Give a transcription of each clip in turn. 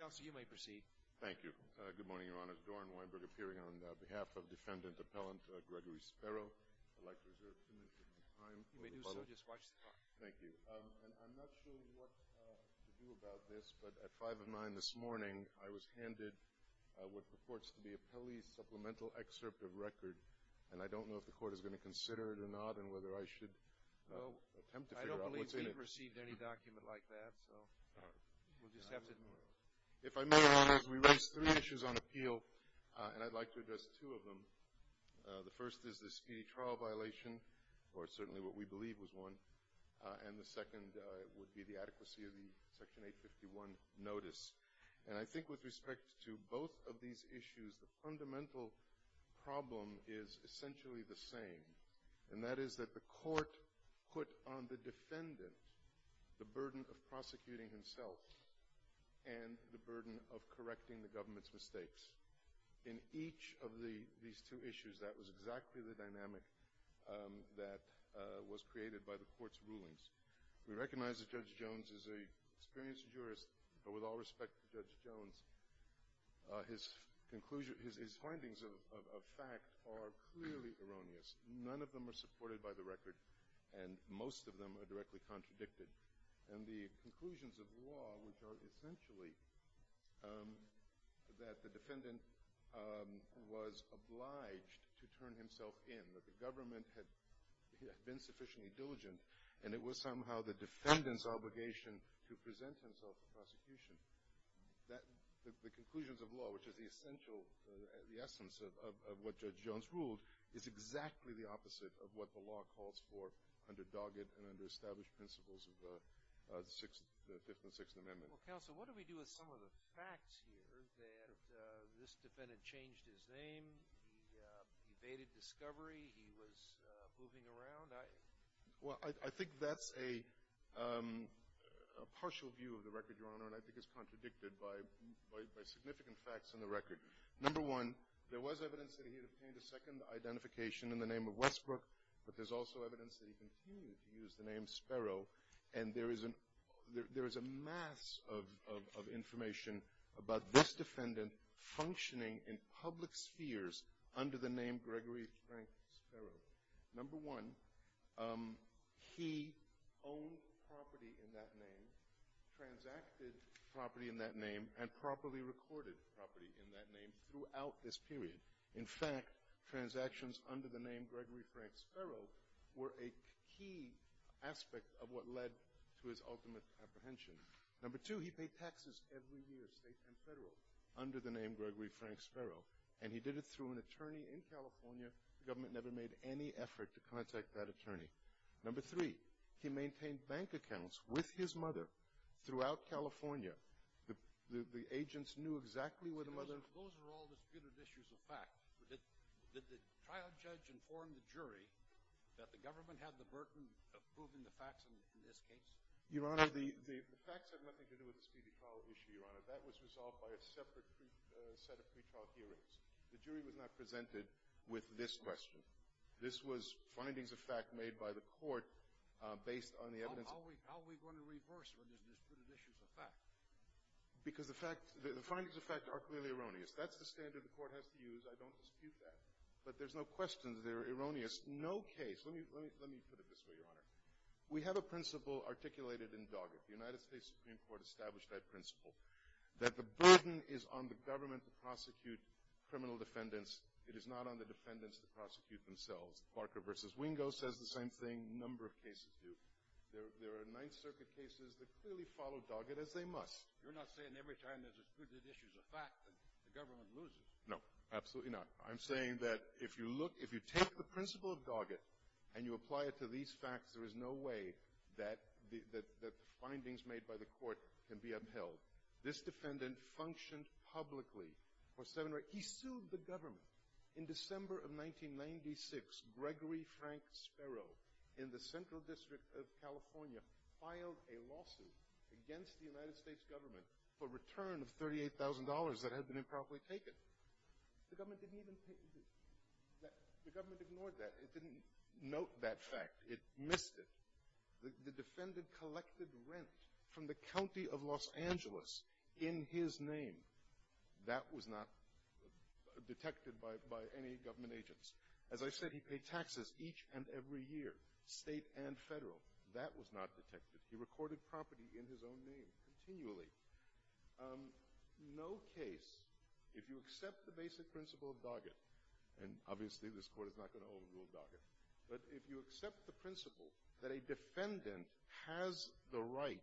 Thank you. I'm not sure what to do about this, but at 5 of 9 this morning, I was handed what purports to be a Pelley supplemental excerpt of record, and I don't know if the Court is going to consider it or not and whether I should attempt to figure out what's in it. I haven't received any document like that, so we'll just have to... If I may, Your Honors, we raised three issues on appeal, and I'd like to address two of them. The first is the speedy trial violation, or certainly what we believe was one. And the second would be the adequacy of the Section 851 notice. And I think with respect to both of these issues, the fundamental problem is essentially the same, and that is that the Court put on the defendant the burden of prosecuting himself and the burden of correcting the government's mistakes. In each of these two issues, that was exactly the dynamic that was created by the Court's rulings. We recognize that Judge Jones is an experienced jurist, but with all respect to Judge Jones, his findings of fact are clearly erroneous. None of them are supported by the record, and most of them are directly contradicted. And the conclusions of law, which are essentially that the defendant was obliged to turn himself in, that the government had been sufficiently diligent, and it was somehow the defendant's obligation to present himself for prosecution, the conclusions of law, which is the essential, the essence of what Judge Jones ruled, is exactly the opposite of what the law calls for under dogged and underestablished principles of the Fifth and Sixth Amendments. Well, Counsel, what do we do with some of the facts here that this defendant changed his name, he evaded discovery, he was moving around? Well, I think that's a partial view of the record, Your Honor, and I think it's contradicted by significant facts in the record. Number one, there was evidence that he had obtained a second identification in the name of Westbrook, but there's also evidence that he continued to use the name Sparrow, and there is a mass of information about this defendant functioning in public spheres under the name Gregory Frank Sparrow. Number one, he owned property in that name, transacted property in that name, and properly recorded property in that name throughout this period. In fact, transactions under the name Gregory Frank Sparrow were a key aspect of what led to his ultimate apprehension. Number two, he paid taxes every year, state and federal, under the name Gregory Frank Sparrow, and he did it through an attorney in California. The government never made any effort to contact that attorney. Number three, he maintained bank accounts with his mother throughout California. The agents knew exactly where the mother— Those are all disputed issues of fact. Did the trial judge inform the jury that the government had the burden of proving the facts in this case? Your Honor, the facts have nothing to do with the speedy trial issue, Your Honor. That was resolved by a separate set of pretrial hearings. The jury was not presented with this question. This was findings of fact made by the court based on the evidence. How are we going to reverse when there's disputed issues of fact? Because the findings of fact are clearly erroneous. That's the standard the court has to use. I don't dispute that. But there's no question that they're erroneous. No case—let me put it this way, Your Honor. We have a principle articulated in Doggett. The United States Supreme Court established that principle. That the burden is on the government to prosecute criminal defendants. It is not on the defendants to prosecute themselves. Parker v. Wingo says the same thing. A number of cases do. There are Ninth Circuit cases that clearly follow Doggett as they must. You're not saying every time there's disputed issues of fact, the government loses. No, absolutely not. I'm saying that if you look—if you take the principle of Doggett and you apply it to these facts, there is no way that the findings made by the court can be upheld. This defendant functioned publicly for seven—he sued the government. In December of 1996, Gregory Frank Sparrow in the Central District of California filed a lawsuit against the United States government for return of $38,000 that had been improperly taken. The government didn't even—the government ignored that. It didn't note that fact. It missed it. The defendant collected rent from the county of Los Angeles in his name. That was not detected by any government agents. As I said, he paid taxes each and every year, state and federal. That was not detected. He recorded property in his own name continually. No case—if you accept the basic principle of Doggett, and obviously this court is not going to overrule Doggett, but if you accept the principle that a defendant has the right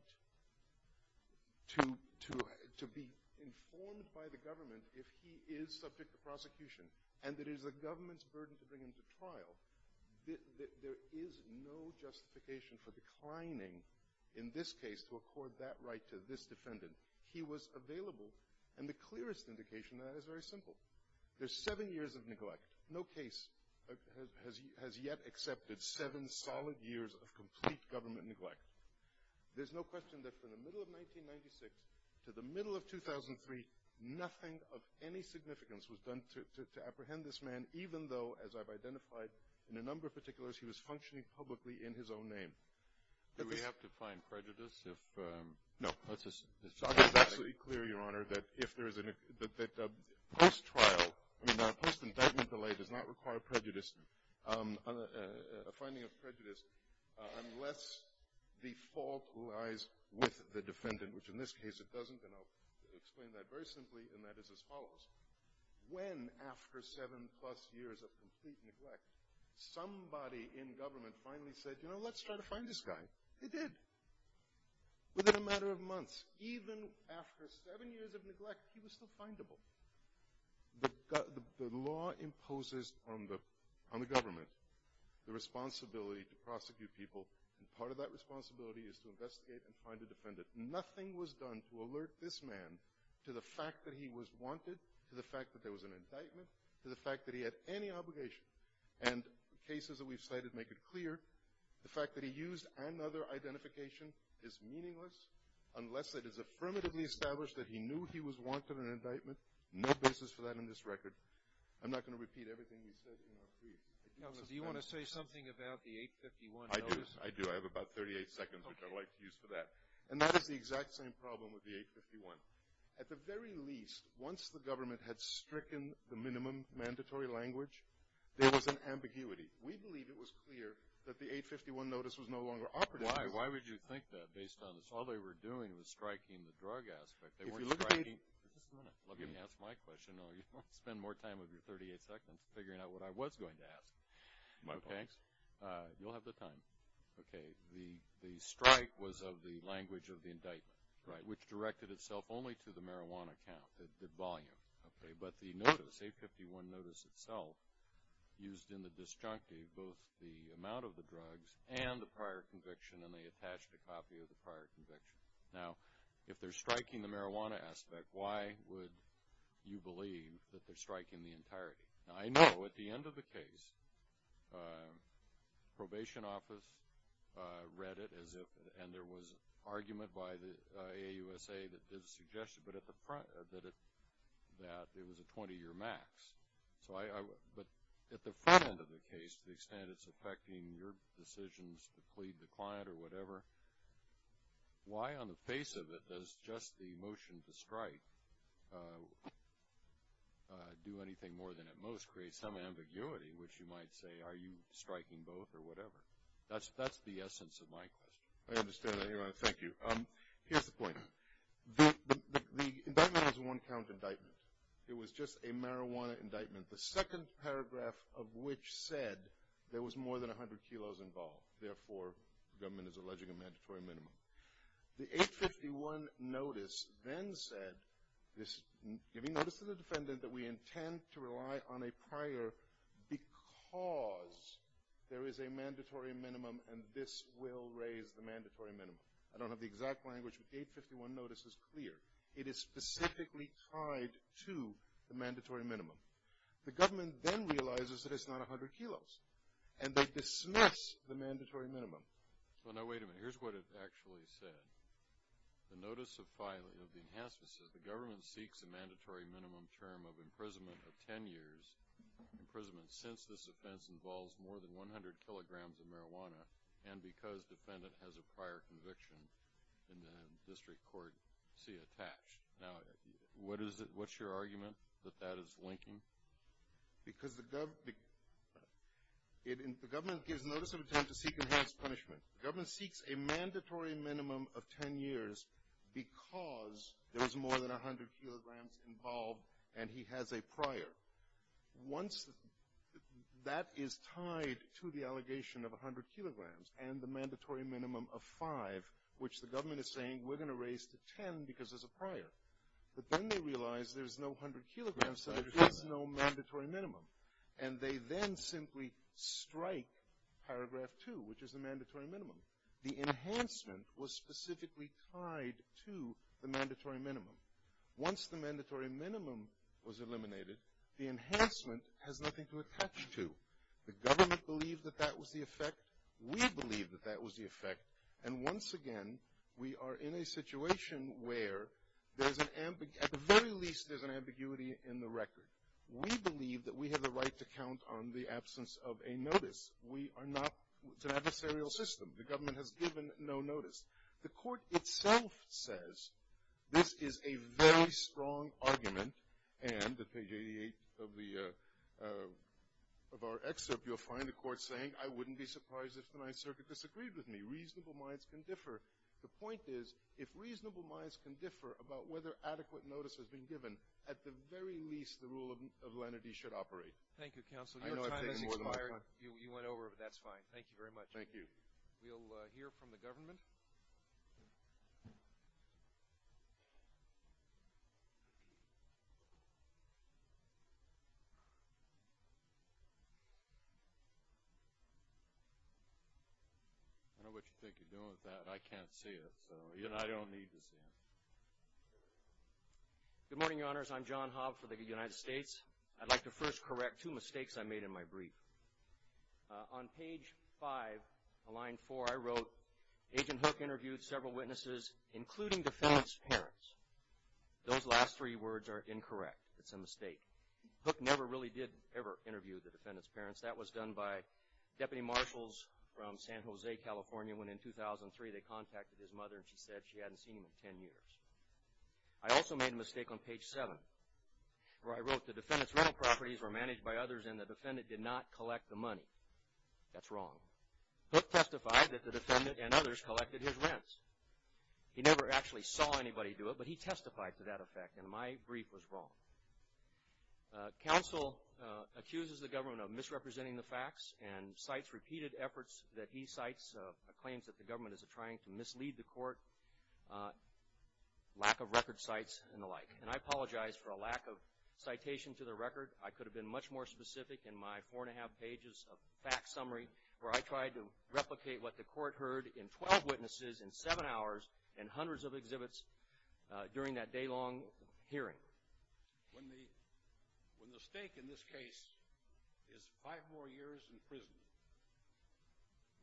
to be informed by the government if he is subject to prosecution and that it is the government's burden to bring him to trial, there is no justification for declining, in this case, to accord that right to this defendant. He was available, and the clearest indication of that is very simple. There's seven years of neglect. No case has yet accepted seven solid years of complete government neglect. There's no question that from the middle of 1996 to the middle of 2003, nothing of any significance was done to apprehend this man, even though, as I've identified in a number of particulars, he was functioning publicly in his own name. Do we have to find prejudice if— No. It's absolutely clear, Your Honor, that post-trial, I mean, a post-indictment delay does not require prejudice, a finding of prejudice, unless the fault lies with the defendant, which in this case it doesn't, and I'll explain that very simply, and that is as follows. When, after seven-plus years of complete neglect, somebody in government finally said, you know, let's try to find this guy, they did. Within a matter of months, even after seven years of neglect, he was still findable. The law imposes on the government the responsibility to prosecute people, and part of that responsibility is to investigate and find a defendant. Nothing was done to alert this man to the fact that he was wanted, to the fact that there was an indictment, to the fact that he had any obligation, and cases that we've cited make it clear. The fact that he used another identification is meaningless unless it is affirmatively established that he knew he was wanted in an indictment. No basis for that in this record. I'm not going to repeat everything you said, Your Honor, please. Do you want to say something about the 851 notice? I do. I do. I have about 38 seconds, which I'd like to use for that. And that is the exact same problem with the 851. At the very least, once the government had stricken the minimum mandatory language, there was an ambiguity. We believe it was clear that the 851 notice was no longer operative. Why would you think that based on this? All they were doing was striking the drug aspect. If you look at it— Just a minute. Let me ask my question. I'll spend more time with your 38 seconds figuring out what I was going to ask. My apologies. You'll have the time. Okay. The strike was of the language of the indictment, which directed itself only to the marijuana count, the volume. Okay. But the notice, 851 notice itself, used in the disjunctive both the amount of the drugs and the prior conviction, and they attached a copy of the prior conviction. Now, if they're striking the marijuana aspect, why would you believe that they're striking the entirety? Now, I know at the end of the case, probation office read it as if— that it was a 20-year max. But at the front end of the case, to the extent it's affecting your decisions to plead the client or whatever, why on the face of it does just the motion to strike do anything more than it most creates some ambiguity, which you might say, are you striking both or whatever? That's the essence of my question. I understand that. Thank you. Here's the point. The indictment has a one-count indictment. It was just a marijuana indictment, the second paragraph of which said there was more than 100 kilos involved. Therefore, the government is alleging a mandatory minimum. The 851 notice then said, giving notice to the defendant that we intend to rely on a prior because there is a mandatory minimum and this will raise the mandatory minimum. I don't have the exact language, but 851 notice is clear. It is specifically tied to the mandatory minimum. The government then realizes that it's not 100 kilos, and they dismiss the mandatory minimum. Well, now, wait a minute. Here's what it actually said. The notice of the enhancement says, the government seeks a mandatory minimum term of imprisonment of 10 years, imprisonment since this offense involves more than 100 kilograms of marijuana and because defendant has a prior conviction in the district court C attached. Now, what's your argument that that is linking? Because the government gives notice of intent to seek enhanced punishment. The government seeks a mandatory minimum of 10 years because there was more than 100 kilograms involved and he has a prior. Once that is tied to the allegation of 100 kilograms and the mandatory minimum of 5, which the government is saying we're going to raise to 10 because there's a prior, but then they realize there's no 100 kilograms, so there is no mandatory minimum, and they then simply strike paragraph 2, which is the mandatory minimum. The enhancement was specifically tied to the mandatory minimum. Once the mandatory minimum was eliminated, the enhancement has nothing to attach to. The government believed that that was the effect. We believe that that was the effect. And once again, we are in a situation where at the very least there's an ambiguity in the record. We believe that we have the right to count on the absence of a notice. We are not an adversarial system. The government has given no notice. The court itself says this is a very strong argument, and at page 88 of our excerpt you'll find the court saying, I wouldn't be surprised if the Ninth Circuit disagreed with me. Reasonable minds can differ. The point is if reasonable minds can differ about whether adequate notice has been given, at the very least the rule of lenity should operate. Thank you, counsel. Your time has expired. You went over, but that's fine. Thank you very much. Thank you. We'll hear from the government. I don't know what you think you're doing with that. I can't see it, so I don't need to see it. Good morning, Your Honors. I'm John Hobbs for the United States. I'd like to first correct two mistakes I made in my brief. On page 5, line 4, I wrote, Agent Hook interviewed several witnesses, including defendant's parents. Those last three words are incorrect. It's a mistake. Hook never really did ever interview the defendant's parents. That was done by deputy marshals from San Jose, California, when in 2003 they contacted his mother and she said she hadn't seen him in 10 years. I also made a mistake on page 7, where I wrote, the defendant's rental properties were managed by others and the defendant did not collect the money. That's wrong. Hook testified that the defendant and others collected his rents. He never actually saw anybody do it, but he testified to that effect, and my brief was wrong. Counsel accuses the government of misrepresenting the facts and cites repeated efforts that he cites, claims that the government is trying to mislead the court, lack of record cites, and the like. And I apologize for a lack of citation to the record. I could have been much more specific in my four-and-a-half pages of facts summary where I tried to replicate what the court heard in 12 witnesses in seven hours and hundreds of exhibits during that day-long hearing. When the stake in this case is five more years in prison,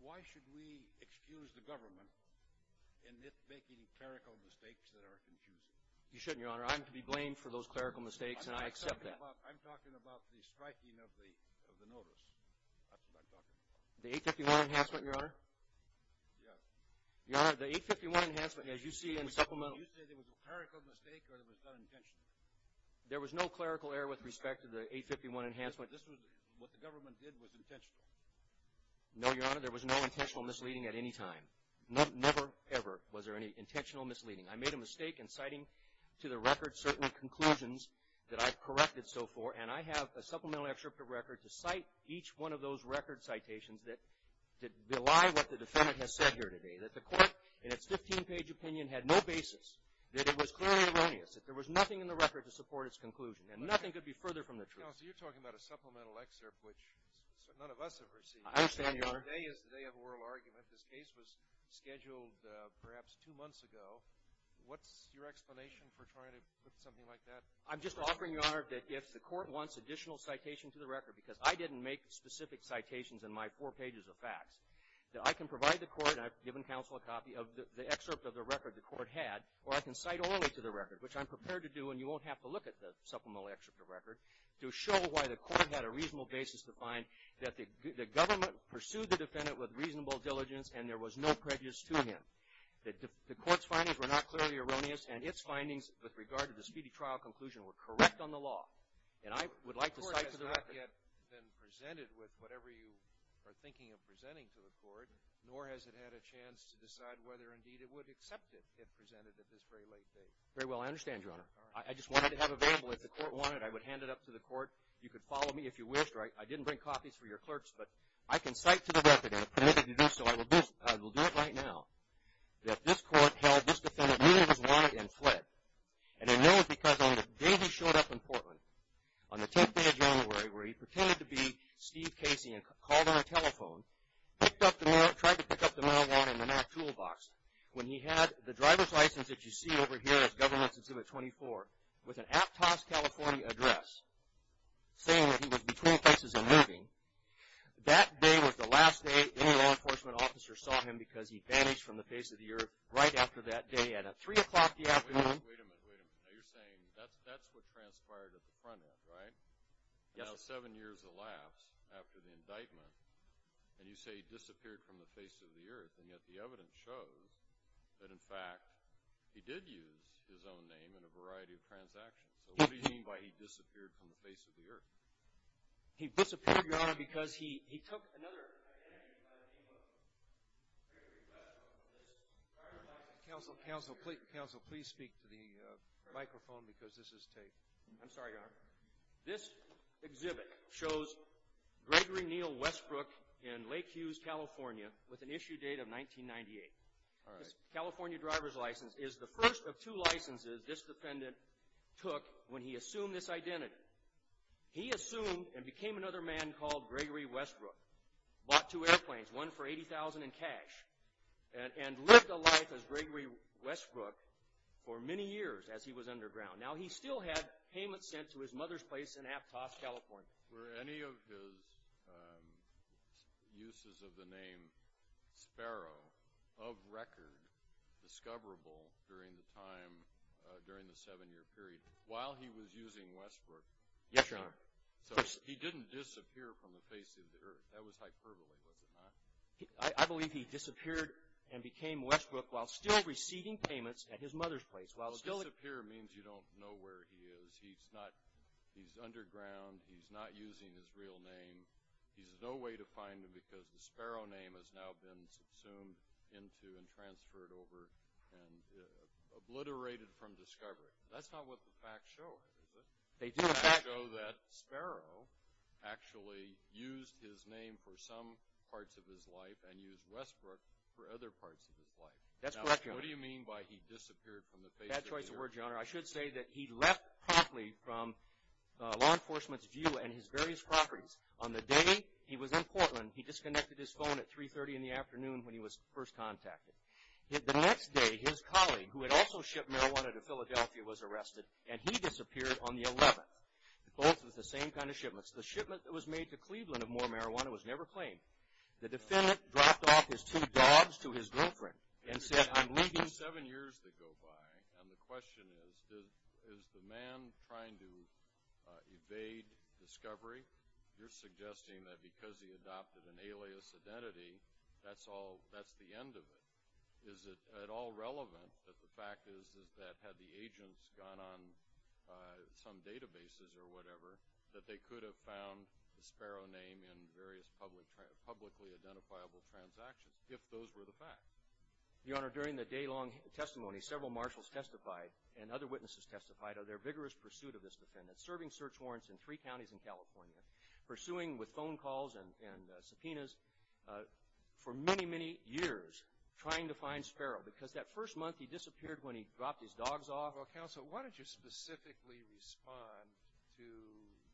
why should we excuse the government in it making clerical mistakes that are confusing? You shouldn't, Your Honor. I'm to be blamed for those clerical mistakes, and I accept that. I'm talking about the striking of the notice. That's what I'm talking about. The 851 Enhancement, Your Honor? Yes. Your Honor, the 851 Enhancement, as you see in supplemental... You say there was a clerical mistake or it was done intentionally? There was no clerical error with respect to the 851 Enhancement. This was what the government did was intentional? No, Your Honor. There was no intentional misleading at any time. Never, ever was there any intentional misleading. I made a mistake in citing to the record certain conclusions that I've corrected so far, and I have a supplemental excerpt of record to cite each one of those record citations that belie what the defendant has said here today, that the court in its 15-page opinion had no basis, that it was clearly erroneous, that there was nothing in the record to support its conclusion, and nothing could be further from the truth. Counsel, you're talking about a supplemental excerpt which none of us have received. I understand, Your Honor. Today is the day of oral argument. This case was scheduled perhaps two months ago. What's your explanation for trying to put something like that? I'm just offering, Your Honor, that if the court wants additional citation to the record, because I didn't make specific citations in my four pages of facts, that I can provide the court, and I've given counsel a copy of the excerpt of the record the court had, or I can cite only to the record, which I'm prepared to do, and you won't have to look at the supplemental excerpt of record, to show why the court had a reasonable basis to find that the government pursued the defendant with reasonable diligence and there was no prejudice to him. The court's findings were not clearly erroneous, and its findings with regard to the speedy trial conclusion were correct on the law, and I would like to cite to the record. The court has not yet been presented with whatever you are thinking of presenting to the court, nor has it had a chance to decide whether, indeed, it would accept it, if presented at this very late date. Very well, I understand, Your Honor. I just wanted to have it available. If the court wanted, I would hand it up to the court. You could follow me if you wished, or I didn't bring copies for your clerks, but I can cite to the record, and if permitted to do so, I will do it right now, that this court held this defendant knew he was wanted and fled, and it knows because on the day he showed up in Portland, on the 10th day of January, where he pretended to be Steve Casey and called on a telephone, picked up the mail, tried to pick up the mail while in the mail toolbox, when he had the driver's license that you see over here as Government Exhibit 24, with an Aptos, California address, saying that he was between places and moving, that day was the last day any law enforcement officer saw him because he vanished from the face of the earth right after that day at 3 o'clock in the afternoon. Wait a minute, wait a minute. Now, you're saying that's what transpired at the front end, right? Yes, sir. Now, seven years elapsed after the indictment, and you say he disappeared from the face of the earth, and yet the evidence shows that, in fact, he did use his own name in a variety of transactions. So, what do you mean by he disappeared from the face of the earth? He disappeared, Your Honor, because he took another identity by the name of Gregory Westbrook. Counsel, please speak to the microphone because this is taped. I'm sorry, Your Honor. This exhibit shows Gregory Neal Westbrook in Lake Hughes, California, with an issue date of 1998. This California driver's license is the first of two licenses this defendant took when he assumed this identity. He assumed and became another man called Gregory Westbrook, bought two airplanes, one for $80,000 in cash, and lived a life as Gregory Westbrook for many years as he was underground. Now, he still had payments sent to his mother's place in Aptos, California. Were any of his uses of the name Sparrow of record discoverable during the time, during the seven-year period, while he was using Westbrook? Yes, Your Honor. So, he didn't disappear from the face of the earth. That was hyperbole, was it not? I believe he disappeared and became Westbrook while still receiving payments at his mother's place. Well, disappear means you don't know where he is. He's underground. He's not using his real name. There's no way to find him because the Sparrow name has now been subsumed into and transferred over and obliterated from discovery. That's not what the facts show, is it? The facts show that Sparrow actually used his name for some parts of his life and used Westbrook for other parts of his life. That's correct, Your Honor. Now, what do you mean by he disappeared from the face of the earth? Bad choice of words, Your Honor. I should say that he left promptly from law enforcement's view and his various properties. On the day he was in Portland, he disconnected his phone at 3.30 in the afternoon when he was first contacted. The next day, his colleague, who had also shipped marijuana to Philadelphia, was arrested, and he disappeared on the 11th. Both were the same kind of shipments. The shipment that was made to Cleveland of more marijuana was never claimed. The defendant dropped off his two dogs to his girlfriend and said, I'm leaving. There are seven years that go by, and the question is, is the man trying to evade discovery? You're suggesting that because he adopted an alias identity, that's the end of it. Is it at all relevant that the fact is that had the agents gone on some databases or whatever, that they could have found the Sparrow name in various publicly identifiable transactions, if those were the facts? Your Honor, during the day-long testimony, several marshals testified, and other witnesses testified, of their vigorous pursuit of this defendant, serving search warrants in three counties in California, pursuing with phone calls and subpoenas for many, many years, trying to find Sparrow. Because that first month, he disappeared when he dropped his dogs off. Counsel, why don't you specifically respond to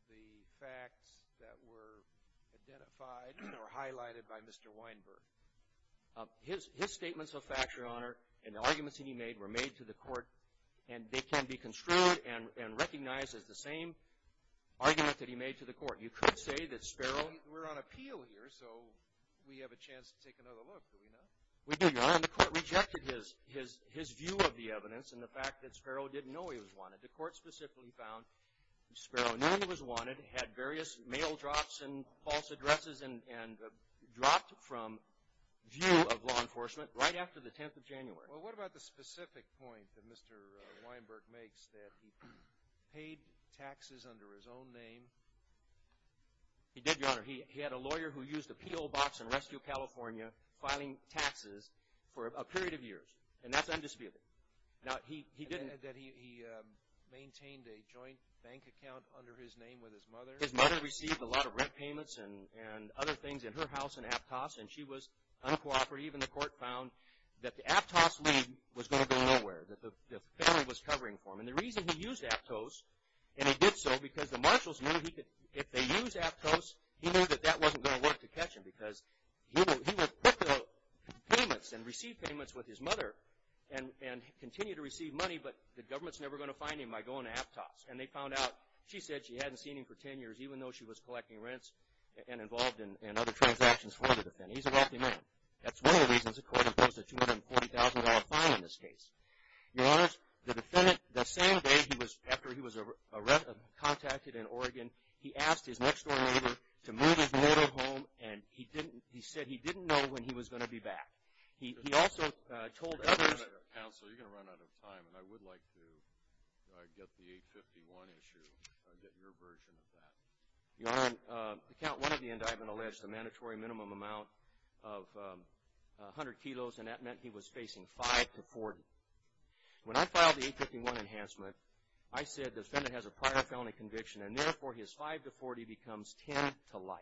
the facts that were identified or highlighted by Mr. Weinberg? His statements of fact, Your Honor, and the arguments that he made were made to the court, and they can be construed and recognized as the same argument that he made to the court. You could say that Sparrow… We're on appeal here, so we have a chance to take another look. Do we not? We do, Your Honor. And the court rejected his view of the evidence and the fact that Sparrow didn't know he was wanted. The court specifically found Sparrow knew he was wanted, had various mail drops and false addresses, and dropped from view of law enforcement right after the 10th of January. Well, what about the specific point that Mr. Weinberg makes, that he paid taxes under his own name? He did, Your Honor. He had a lawyer who used a P.O. box in Rescue, California, filing taxes for a period of years. And that's undisputed. And that he maintained a joint bank account under his name with his mother? His mother received a lot of rent payments and other things in her house in Aptos, and she was uncooperative, and the court found that the Aptos lead was going to go nowhere, that the family was covering for him. And the reason he used Aptos, and he did so because the marshals knew if they used Aptos, he knew that that wasn't going to work to catch him because he would put the payments and receive payments with his mother and continue to receive money, but the government's never going to find him by going to Aptos. And they found out, she said she hadn't seen him for 10 years, even though she was collecting rents and involved in other transactions for the defendant. He's a wealthy man. That's one of the reasons the court imposed a $240,000 fine on this case. Your Honor, the defendant, the same day after he was contacted in Oregon, he asked his next-door neighbor to move his motor home, and he said he didn't know when he was going to be back. He also told others. Counsel, you're going to run out of time, and I would like to get the 851 issue, get your version of that. Your Honor, account one of the indictment alleged a mandatory minimum amount of 100 kilos, and that meant he was facing 5 to 40. When I filed the 851 enhancement, I said the defendant has a prior felony conviction, and therefore his 5 to 40 becomes 10 to life.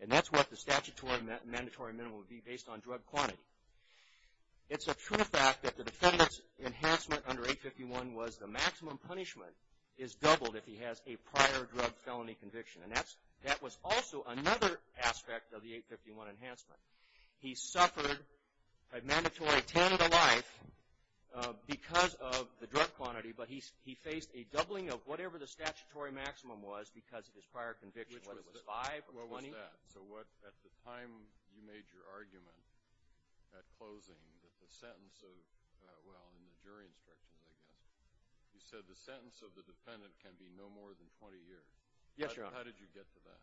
And that's what the statutory mandatory minimum would be based on drug quantity. It's a true fact that the defendant's enhancement under 851 was the maximum punishment is doubled if he has a prior drug felony conviction. And that was also another aspect of the 851 enhancement. He suffered a mandatory 10 to life because of the drug quantity, but he faced a doubling of whatever the statutory maximum was because of his prior conviction, whether it was 5 or 20. What was that? So at the time you made your argument at closing that the sentence of, well, in the jury instructions, I guess, you said the sentence of the defendant can be no more than 20 years. Yes, Your Honor. How did you get to that?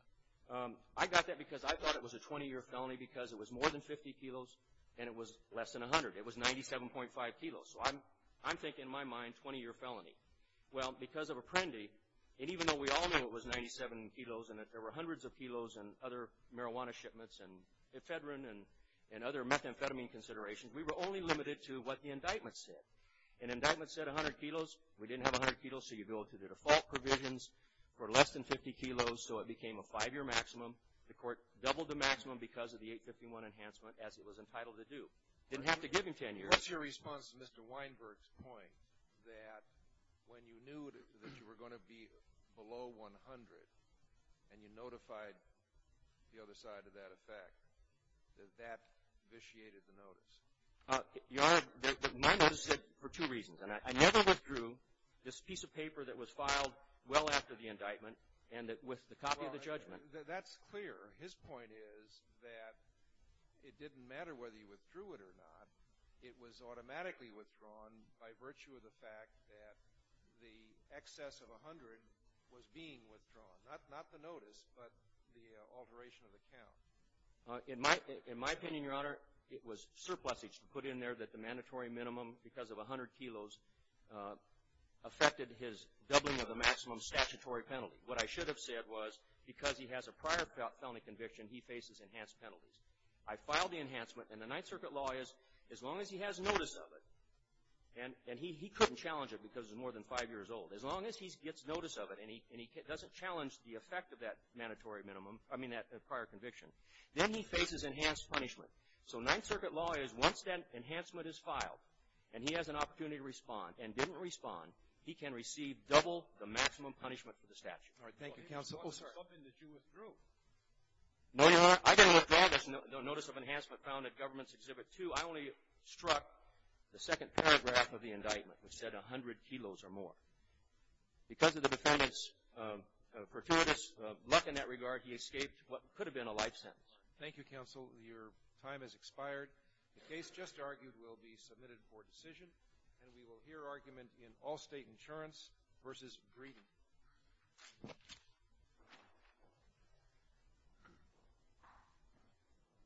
I got that because I thought it was a 20-year felony because it was more than 50 kilos and it was less than 100. It was 97.5 kilos. So I'm thinking in my mind 20-year felony. Well, because of Apprendi, and even though we all knew it was 97 kilos and that there were hundreds of kilos and other marijuana shipments and ephedrine and other methamphetamine considerations, we were only limited to what the indictment said. An indictment said 100 kilos. We didn't have 100 kilos, so you go to the default provisions for less than 50 kilos, so it became a five-year maximum. The court doubled the maximum because of the 851 enhancement as it was entitled to do. Didn't have to give him 10 years. What's your response to Mr. Weinberg's point that when you knew that you were going to be below 100 and you notified the other side of that effect, that that vitiated the notice? Your Honor, my notice said for two reasons. I never withdrew this piece of paper that was filed well after the indictment and with the copy of the judgment. That's clear. His point is that it didn't matter whether you withdrew it or not. It was automatically withdrawn by virtue of the fact that the excess of 100 was being withdrawn. Not the notice, but the alteration of the count. In my opinion, Your Honor, it was surplusage to put in there that the mandatory minimum because of 100 kilos affected his doubling of the maximum statutory penalty. What I should have said was because he has a prior felony conviction, he faces enhanced penalties. I filed the enhancement, and the Ninth Circuit law is as long as he has notice of it, and he couldn't challenge it because he's more than five years old, as long as he gets notice of it and he doesn't challenge the effect of that prior conviction, then he faces enhanced punishment. So Ninth Circuit law is once that enhancement is filed and he has an opportunity to respond and didn't respond, he can receive double the maximum punishment for the statute. All right. Thank you, Counsel. Something that you withdrew. No, Your Honor. I didn't withdraw the notice of enhancement found at Government's Exhibit 2. I only struck the second paragraph of the indictment, which said 100 kilos or more. Because of the defendant's gratuitous luck in that regard, he escaped what could have been a life sentence. Thank you, Counsel. Your time has expired. The case just argued will be submitted for decision, and we will hear argument in all-state insurance versus greeting.